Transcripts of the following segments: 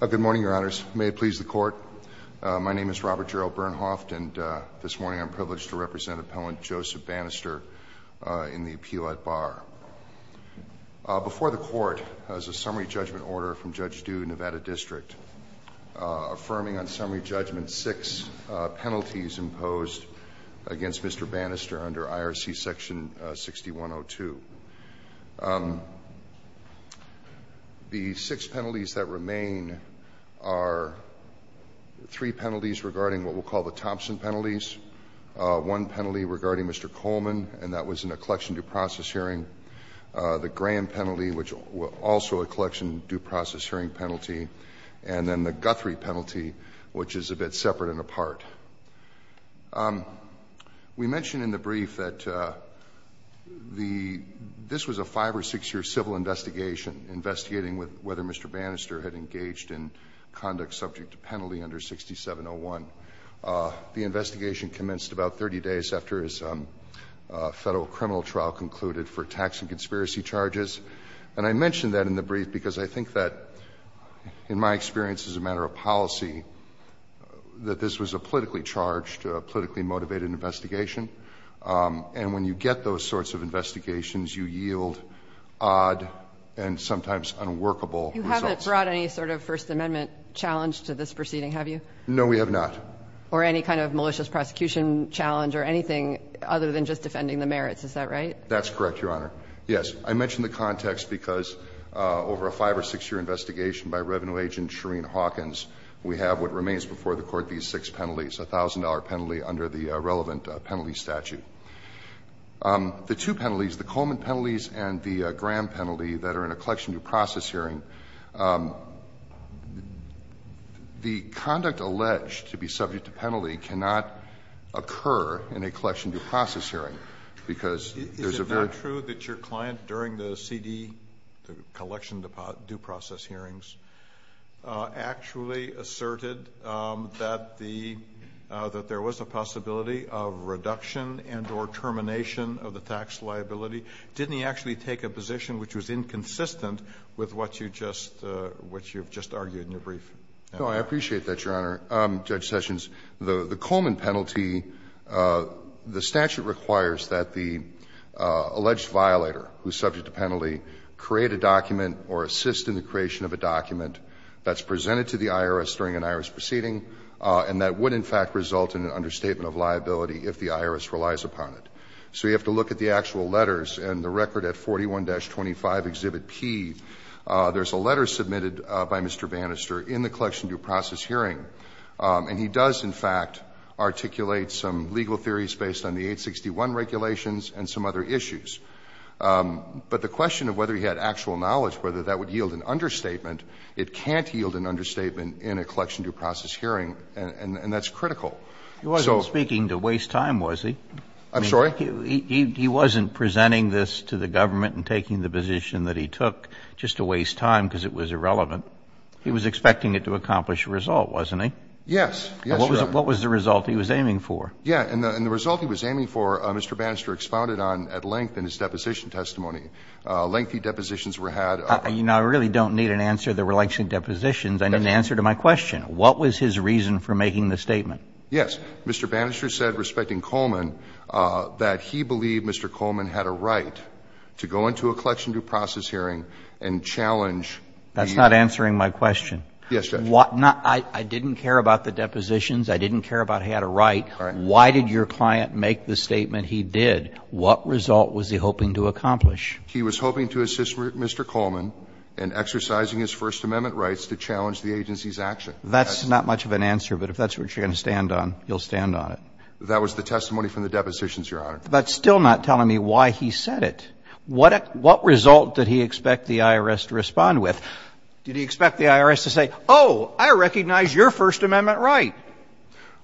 Good morning, Your Honors. May it please the Court, my name is Robert Gerald Bernhoft, and this morning I'm privileged to represent Appellant Joseph Banister in the appeal at bar. Before the Court is a summary judgment order from Judge Dew, Nevada District, affirming on summary judgment six penalties imposed against Mr. Banister under IRC section 6102. The six penalties that remain are three penalties regarding what we'll call the Thompson penalties. One penalty regarding Mr. Coleman, and that was in a collection due process hearing. The Graham penalty, which also a collection due process hearing penalty. And then the Guthrie penalty, which is a bit separate and apart. We mentioned in the brief that this was a five or six year civil investigation investigating whether Mr. Banister had engaged in conduct subject to penalty under 6701. The investigation commenced about 30 days after his federal criminal trial concluded for tax and conspiracy charges. And I mention that in the brief because I think that, in my experience as a matter of policy, that this was a politically charged, politically motivated investigation. And when you get those sorts of investigations, you yield odd and sometimes unworkable results. You haven't brought any sort of First Amendment challenge to this proceeding, have you? No, we have not. Or any kind of malicious prosecution challenge or anything other than just defending the merits. Is that right? That's correct, Your Honor. Yes. I mention the context because over a five or six year investigation by revenue agent Shereen Hawkins, we have what remains before the Court these six penalties, a $1,000 penalty under the relevant penalty statute. The two penalties, the Coleman penalties and the Graham penalty, that are in a collection due process hearing, the conduct alleged to be subject to penalty cannot occur in a collection due process hearing, because there's a very. Is it true that your client during the CD, the collection due process hearings, actually asserted that the, that there was a possibility of reduction and or termination of the tax liability? Didn't he actually take a position which was inconsistent with what you just, what you've just argued in your brief? No, I appreciate that, Your Honor. Judge Sessions, the Coleman penalty, the statute requires that the alleged violator who's subject to penalty create a document or assist in the creation of a document that's presented to the IRS during an IRS proceeding, and that would in fact result in an understatement of liability if the IRS relies upon it. So you have to look at the actual letters, and the record at 41-25, Exhibit P, there's a letter submitted by Mr. Bannister in the collection due process hearing, and he does in fact articulate some legal theories based on the 861 regulations and some other issues. But the question of whether he had actual knowledge, whether that would yield an understatement, it can't yield an understatement in a collection due process hearing, and that's critical. So. He wasn't speaking to waste time, was he? I'm sorry? He wasn't presenting this to the government and taking the position that he took just to waste time because it was irrelevant. He was expecting it to accomplish a result, wasn't he? Yes. Yes, Your Honor. What was the result he was aiming for? Yeah. And the result he was aiming for, Mr. Bannister expounded on at length in his deposition testimony. Lengthy depositions were had. You know, I really don't need an answer. There were lengthy depositions. I need an answer to my question. What was his reason for making the statement? Yes. Mr. Bannister said, respecting Coleman, that he believed Mr. Coleman had a right to go into a collection due process hearing and challenge the. That's not answering my question. Yes, Judge. I didn't care about the depositions. I didn't care about he had a right. All right. Why did your client make the statement he did? What result was he hoping to accomplish? He was hoping to assist Mr. Coleman in exercising his First Amendment rights to challenge the agency's action. That's not much of an answer, but if that's what you're going to stand on, you'll stand on it. That was the testimony from the depositions, Your Honor. But still not telling me why he said it. What result did he expect the IRS to respond with? Did he expect the IRS to say, oh, I recognize your First Amendment right?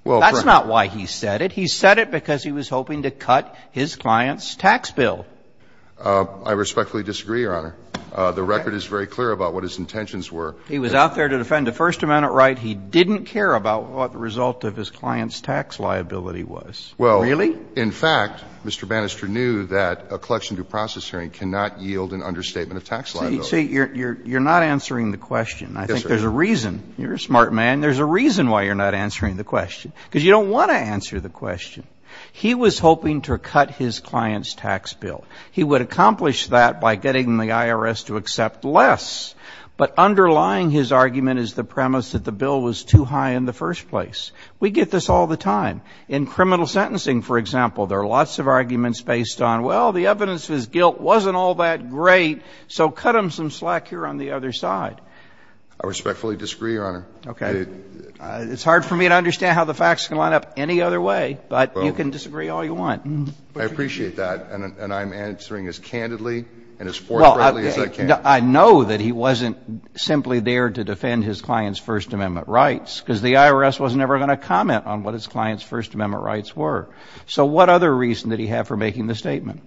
That's not why he said it. He said it because he was hoping to cut his client's tax bill. I respectfully disagree, Your Honor. The record is very clear about what his intentions were. He was out there to defend the First Amendment right. He didn't care about what the result of his client's tax liability was. Really? In fact, Mr. Banister knew that a collection due process hearing cannot yield an understatement of tax liability. See, you're not answering the question. I think there's a reason. You're a smart man. There's a reason why you're not answering the question, because you don't want to answer the question. He was hoping to cut his client's tax bill. He would accomplish that by getting the IRS to accept less. But underlying his argument is the premise that the bill was too high in the first place. We get this all the time. In criminal sentencing, for example, there are lots of arguments based on, well, the evidence of his guilt wasn't all that great, so cut him some slack here on the other side. I respectfully disagree, Your Honor. Okay. It's hard for me to understand how the facts can line up any other way, but you can disagree all you want. I appreciate that, and I'm answering as candidly and as forthrightly as I can. Well, I know that he wasn't simply there to defend his client's First Amendment rights, because the IRS was never going to comment on what his client's First Amendment rights were. So what other reason did he have for making the statement?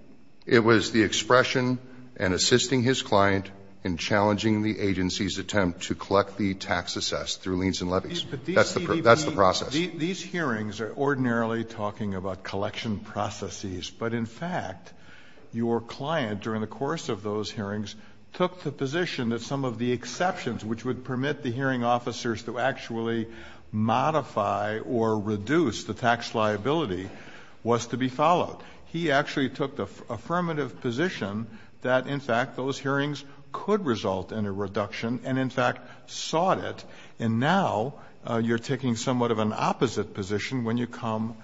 It was the expression and assisting his client in challenging the agency's attempt to collect the tax assessed through liens and levies. That's the process. These hearings are ordinarily talking about collection processes, but in fact, your client, during the course of those hearings, took the position that some of the modify or reduce the tax liability was to be followed. He actually took the affirmative position that, in fact, those hearings could result in a reduction and, in fact, sought it, and now you're taking somewhat of an opposite position when you come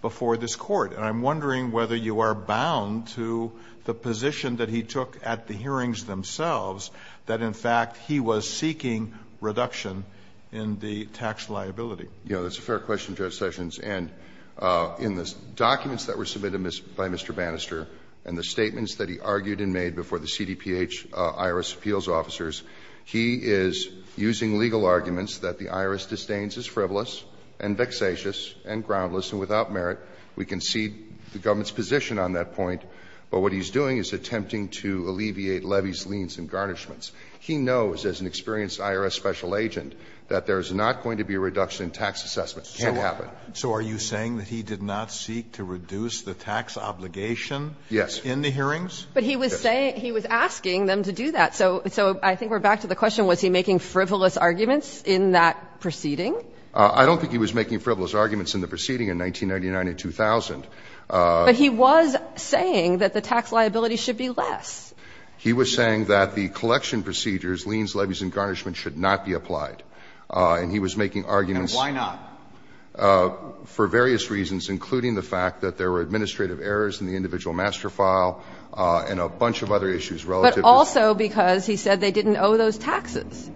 before this Court. And I'm wondering whether you are bound to the position that he took at the hearings themselves that, in fact, he was seeking reduction in the tax liability. Yeah, that's a fair question, Judge Sessions. And in the documents that were submitted by Mr. Bannister and the statements that he argued and made before the CDPH IRS appeals officers, he is using legal arguments that the IRS disdains as frivolous and vexatious and groundless and without merit. We concede the government's position on that point, but what he's doing is attempting to alleviate levies, liens, and garnishments. He knows, as an experienced IRS special agent, that there is not going to be a reduction in tax assessment. It can't happen. So are you saying that he did not seek to reduce the tax obligation in the hearings? Yes. But he was saying he was asking them to do that. So I think we're back to the question, was he making frivolous arguments in that proceeding? I don't think he was making frivolous arguments in the proceeding in 1999 and 2000. But he was saying that the tax liability should be less. He was saying that the collection procedures, liens, levies, and garnishments should not be applied. And he was making arguments for various reasons, including the fact that there were administrative errors in the individual master file and a bunch of other issues relative to that. But also because he said they didn't owe those taxes.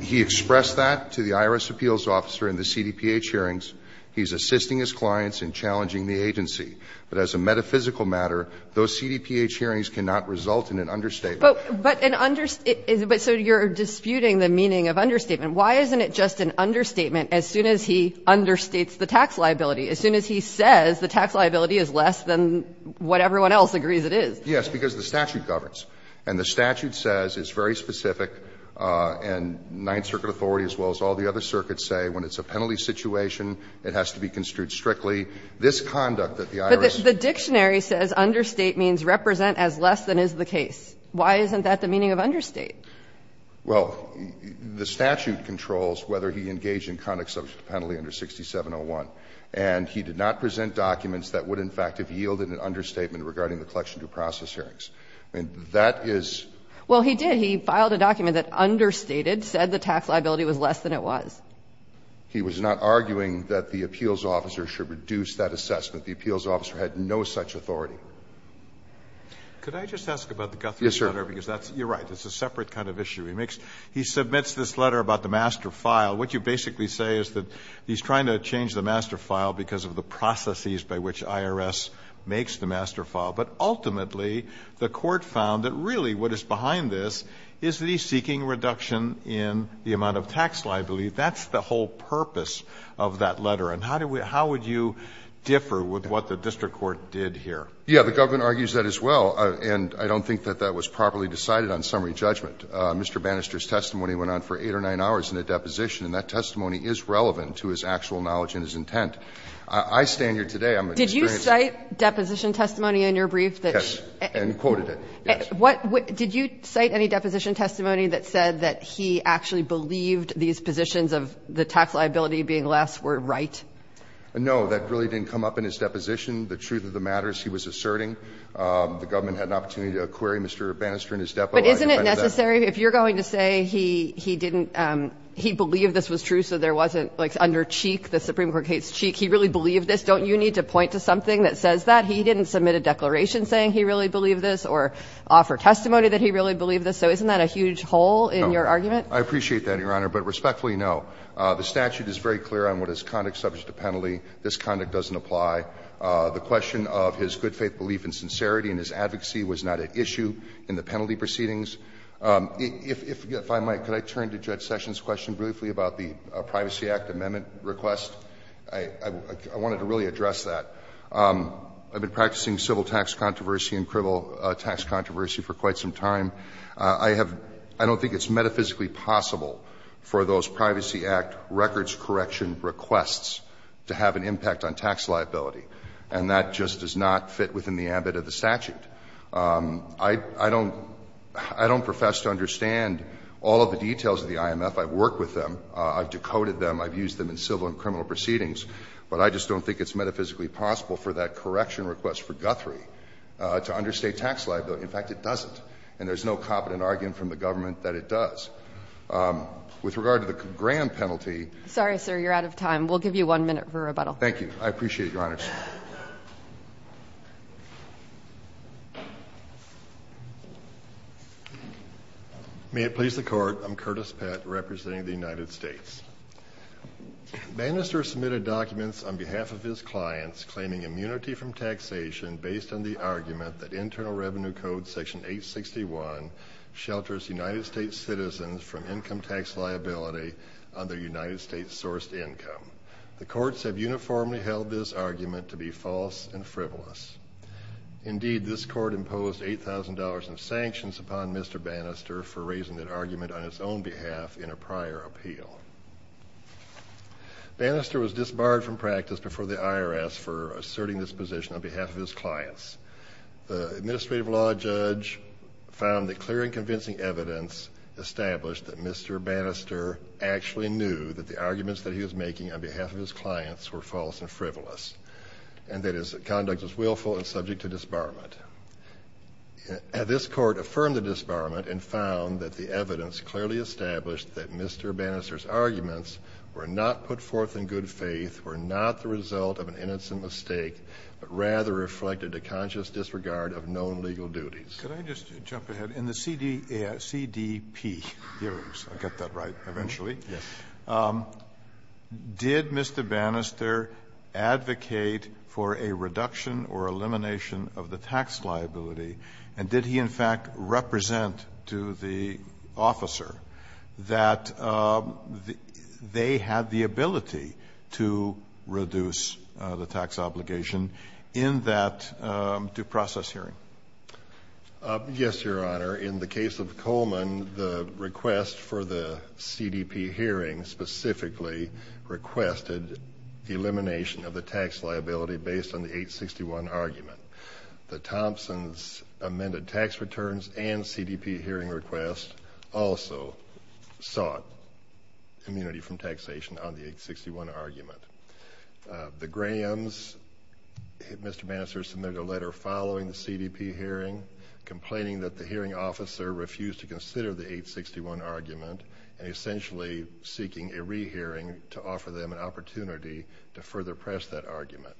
He expressed that to the IRS appeals officer in the CDPH hearings. He's assisting his clients in challenging the agency. But as a metaphysical matter, those CDPH hearings cannot result in an understatement. But an understatement so you're disputing the meaning of understatement. Why isn't it just an understatement as soon as he understates the tax liability, as soon as he says the tax liability is less than what everyone else agrees it is? Yes, because the statute governs. And the statute says, it's very specific, and Ninth Circuit authority as well as all the other circuits say, when it's a penalty situation, it has to be construed strictly this conduct that the IRS. But the dictionary says understate means represent as less than is the case. Why isn't that the meaning of understate? Well, the statute controls whether he engaged in conducts of penalty under 6701. And he did not present documents that would in fact have yielded an understatement regarding the collection due process hearings. I mean, that is. Well, he did. He filed a document that understated, said the tax liability was less than it was. He was not arguing that the appeals officer should reduce that assessment. The appeals officer had no such authority. Could I just ask about the Guthrie letter? Yes, sir. Because that's, you're right, it's a separate kind of issue. He makes, he submits this letter about the master file. What you basically say is that he's trying to change the master file because of the processes by which IRS makes the master file. But ultimately, the Court found that really what is behind this is that he's seeking reduction in the amount of tax liability. That's the whole purpose of that letter. And how do we, how would you differ with what the district court did here? Yeah, the government argues that as well. And I don't think that that was properly decided on summary judgment. Mr. Bannister's testimony went on for 8 or 9 hours in a deposition. And that testimony is relevant to his actual knowledge and his intent. I stand here today, I'm an experienced lawyer. And I'm not going to go into the details of his testimony in your brief. Yes. And quoted it. Yes. What, did you cite any deposition testimony that said that he actually believed these positions of the tax liability being less were right? No, that really didn't come up in his deposition. The truth of the matter is he was asserting the government had an opportunity to acquire Mr. Bannister and his depo. But isn't it necessary, if you're going to say he didn't, he believed this was true so there wasn't like under cheek, the Supreme Court case cheek. He really believed this. Don't you need to point to something that says that? He didn't submit a declaration saying he really believed this or offer testimony that he really believed this. So isn't that a huge hole in your argument? No. I appreciate that, Your Honor. But respectfully, no. The statute is very clear on what is conduct subject to penalty. This conduct doesn't apply. The question of his good faith belief in sincerity and his advocacy was not at issue in the penalty proceedings. If I might, could I turn to Judge Sessions' question briefly about the Privacy Act amendment request? I wanted to really address that. I've been practicing civil tax controversy and criminal tax controversy for quite some time. I have – I don't think it's metaphysically possible for those Privacy Act records correction requests to have an impact on tax liability. And that just does not fit within the ambit of the statute. I don't profess to understand all of the details of the IMF. I've worked with them. I've decoded them. I've used them in civil and criminal proceedings. But I just don't think it's metaphysically possible for that correction request for Guthrie to understate tax liability. In fact, it doesn't. And there's no competent argument from the government that it does. With regard to the grand penalty – Sorry, sir. You're out of time. We'll give you one minute for rebuttal. Thank you. I appreciate it, Your Honor. May it please the Court. I'm Curtis Pett representing the United States. Bannister submitted documents on behalf of his clients claiming immunity from taxation based on the argument that Internal Revenue Code Section 861 shelters United States citizens from income tax liability on their United States-sourced income. The courts have uniformly held this argument to be false and frivolous. Indeed, this court imposed $8,000 in sanctions upon Mr. Bannister for raising that argument on his own behalf in a prior appeal. Bannister was disbarred from practice before the IRS for asserting this position on behalf of his clients. The administrative law judge found that clear and convincing evidence established that Mr. Bannister actually knew that the arguments that he was making on behalf of his clients were false and frivolous and that his conduct was willful and subject to disbarment. This court affirmed the disbarment and found that the evidence clearly established that Mr. Bannister's arguments were not put forth in good faith, were not the result of an innocent mistake, but rather reflected a conscious disregard of known legal duties. Could I just jump ahead? In the CDP hearings, I'll get that right eventually, did Mr. Bannister advocate for a reduction or elimination of the tax liability and did he in fact represent to the officer that they had the ability to reduce the tax obligation in that due process hearing? Yes, Your Honor. In the case of Coleman, the request for the CDP hearing specifically requested the elimination of the tax liability based on the 861 argument. The Thompson's amended tax returns and CDP hearing request also sought immunity from taxation on the 861 argument. The Graham's, Mr. Bannister submitted a letter following the CDP hearing complaining that the hearing officer refused to consider the 861 argument and essentially seeking a rehearing to offer them an opportunity to further press that argument.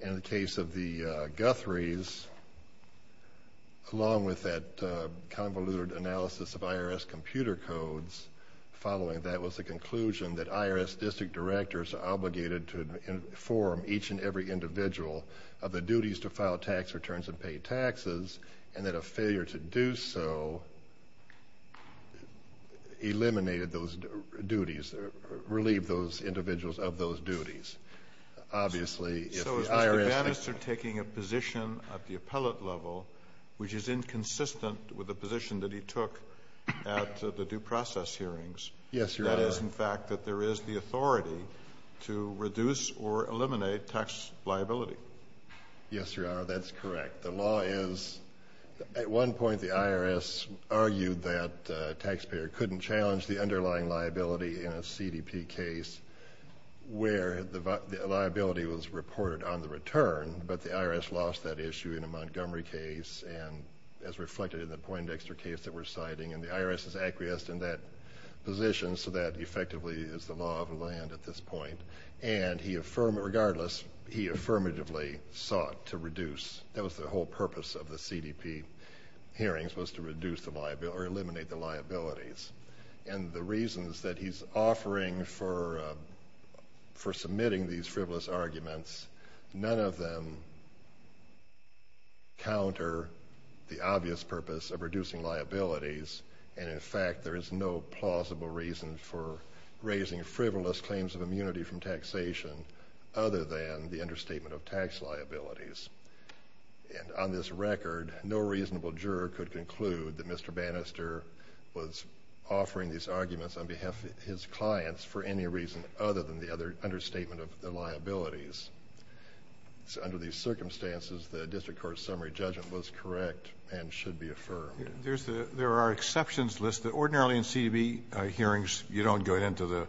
In the case of the Guthrie's, along with that convoluted analysis of IRS computer codes, following that was the conclusion that IRS district directors are obligated to inform each and every individual of the duties to file tax returns and pay taxes and that a failure to do so eliminated those duties or relieved those individuals of those duties. So is Mr. Bannister taking a position at the appellate level which is inconsistent with the position that he took at the due process hearings? Yes, Your Honor. That is, in fact, that there is the authority to reduce or eliminate tax liability. Yes, Your Honor, that's correct. The law is at one point the IRS argued that a taxpayer couldn't challenge the underlying liability in a CDP case where the liability was reported on the return but the IRS lost that issue in a Montgomery case and as reflected in the Poindexter case that we're citing and the IRS is acquiesced in that position so that effectively is the law of the land at this point. And regardless, he affirmatively sought to reduce. That was the whole purpose of the CDP hearings was to reduce the liability or eliminate the liabilities. And the reasons that he's offering for submitting these frivolous arguments, none of them counter the obvious purpose of reducing liabilities and, in fact, there is no plausible reason for raising frivolous claims of immunity from taxation other than the understatement of tax liabilities. And on this record, no reasonable juror could conclude that Mr. Bannister was offering these arguments on behalf of his clients for any reason other than the understatement of the liabilities. Under these circumstances, the district court's summary judgment was correct and should be affirmed. There are exceptions listed. Ordinarily in CDP hearings, you don't go into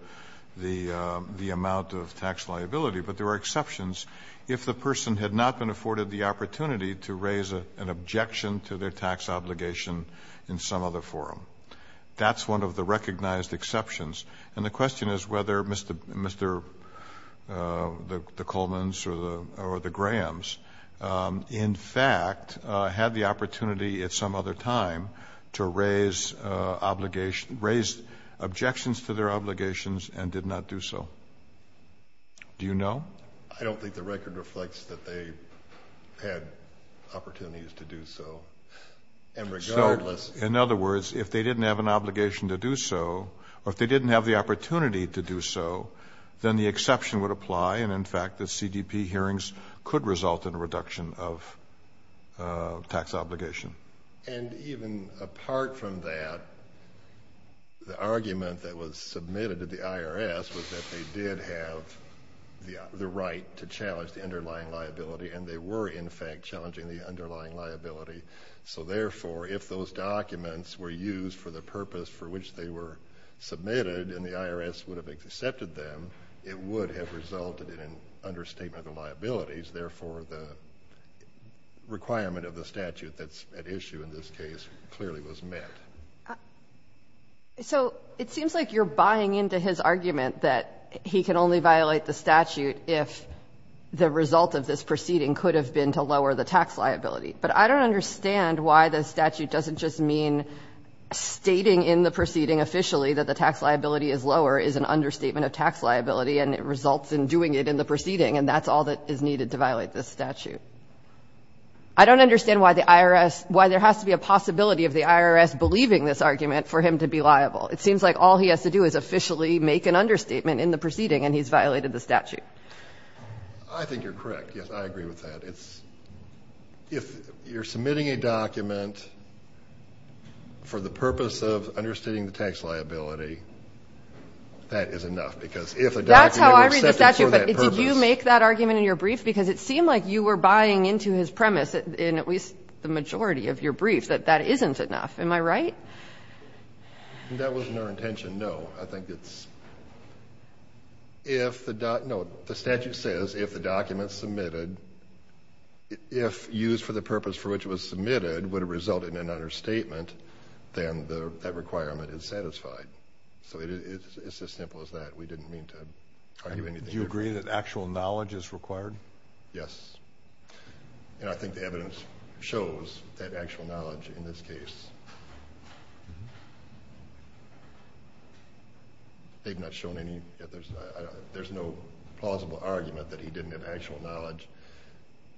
the amount of tax liability, but there are exceptions if the person had not been afforded the opportunity to raise an objection to their tax obligation in some other forum. That's one of the recognized exceptions. And the question is whether Mr. Coleman's or the Graham's, in fact, had the opportunity at some other time to raise objections to their obligations and did not do so. Do you know? I don't think the record reflects that they had opportunities to do so. So, in other words, if they didn't have an obligation to do so or if they didn't have the opportunity to do so, then the exception would apply and, in fact, the CDP hearings could result in a reduction of tax obligation. And even apart from that, the argument that was submitted to the IRS was that they did have the right to challenge the underlying liability and they were, in fact, challenging the underlying liability. So, therefore, if those documents were used for the purpose for which they were submitted and the IRS would have accepted them, it would have resulted in an understatement of liabilities. Therefore, the requirement of the statute that's at issue in this case clearly was met. So it seems like you're buying into his argument that he can only violate the statute if the result of this proceeding could have been to lower the tax liability. But I don't understand why the statute doesn't just mean stating in the proceeding officially that the tax liability is lower is an understatement of tax liability and it results in doing it in the proceeding and that's all that is needed to violate this statute. I don't understand why there has to be a possibility of the IRS believing this argument for him to be liable. It seems like all he has to do is officially make an understatement in the proceeding and he's violated the statute. I think you're correct. Yes, I agree with that. If you're submitting a document for the purpose of understating the tax liability, that is enough. That's how I read the statute, but did you make that argument in your brief? Because it seemed like you were buying into his premise in at least the majority of your brief that that isn't enough. Am I right? That wasn't our intention, no. I think it's if the statute says if the document is submitted, if used for the purpose for which it was submitted would result in an understatement, then that requirement is satisfied. So it's as simple as that. We didn't mean to argue anything. Do you agree that actual knowledge is required? Yes. And I think the evidence shows that actual knowledge in this case, they've not shown any, there's no plausible argument that he didn't have actual knowledge,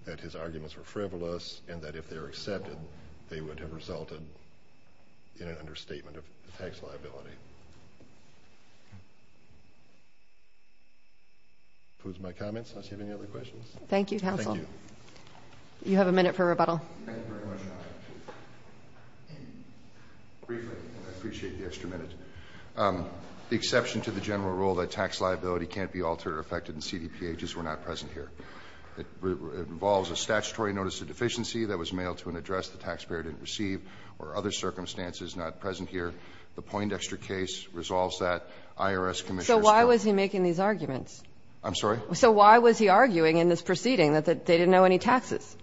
that his arguments were frivolous, and that if they were accepted, they would have resulted in an understatement of the tax liability. That concludes my comments. Unless you have any other questions. Thank you, counsel. You have a minute for rebuttal. I appreciate the extra minute. The exception to the general rule that tax liability can't be altered or affected in CDPH is we're not present here. It involves a statutory notice of deficiency that was mailed to an address the taxpayer didn't receive or other circumstances not present here. The Poindexter case resolves that. IRS commissioners don't. So why was he making these arguments? I'm sorry? So why was he arguing in this proceeding that they didn't know any taxes?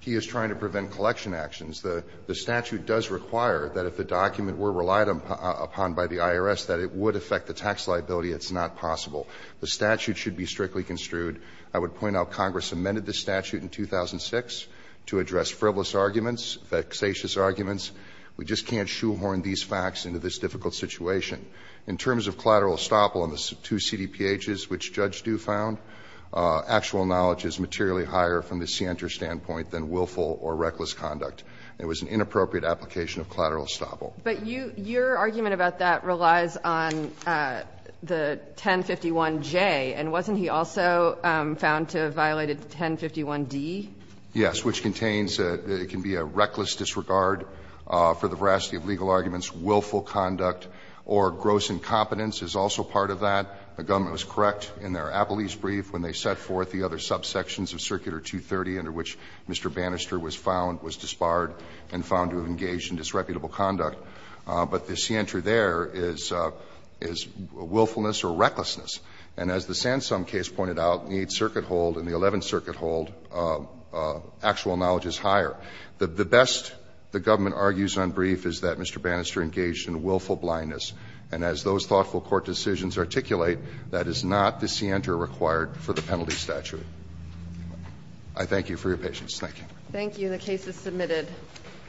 He is trying to prevent collection actions. The statute does require that if the document were relied upon by the IRS, that it would affect the tax liability. It's not possible. The statute should be strictly construed. I would point out Congress amended the statute in 2006 to address frivolous arguments, vexatious arguments. We just can't shoehorn these facts into this difficult situation. In terms of collateral estoppel on the two CDPHs, which Judge Due found, actual knowledge is materially higher from the scienter standpoint than willful or reckless conduct. It was an inappropriate application of collateral estoppel. But your argument about that relies on the 1051J. And wasn't he also found to have violated 1051D? Yes, which contains that it can be a reckless disregard for the veracity of legal arguments, willful conduct, or gross incompetence is also part of that. The government was correct in their Appellee's brief when they set forth the other subsections of Circular 230 under which Mr. Bannister was found, was disbarred and found to have engaged in disreputable conduct. But the scienter there is willfulness or recklessness. And as the Sansum case pointed out, the Eighth Circuit hold and the Eleventh Circuit hold, actual knowledge is higher. The best the government argues on brief is that Mr. Bannister engaged in willful blindness. And as those thoughtful court decisions articulate, that is not the scienter required for the penalty statute. I thank you for your patience. Thank you. Thank you. The case is submitted.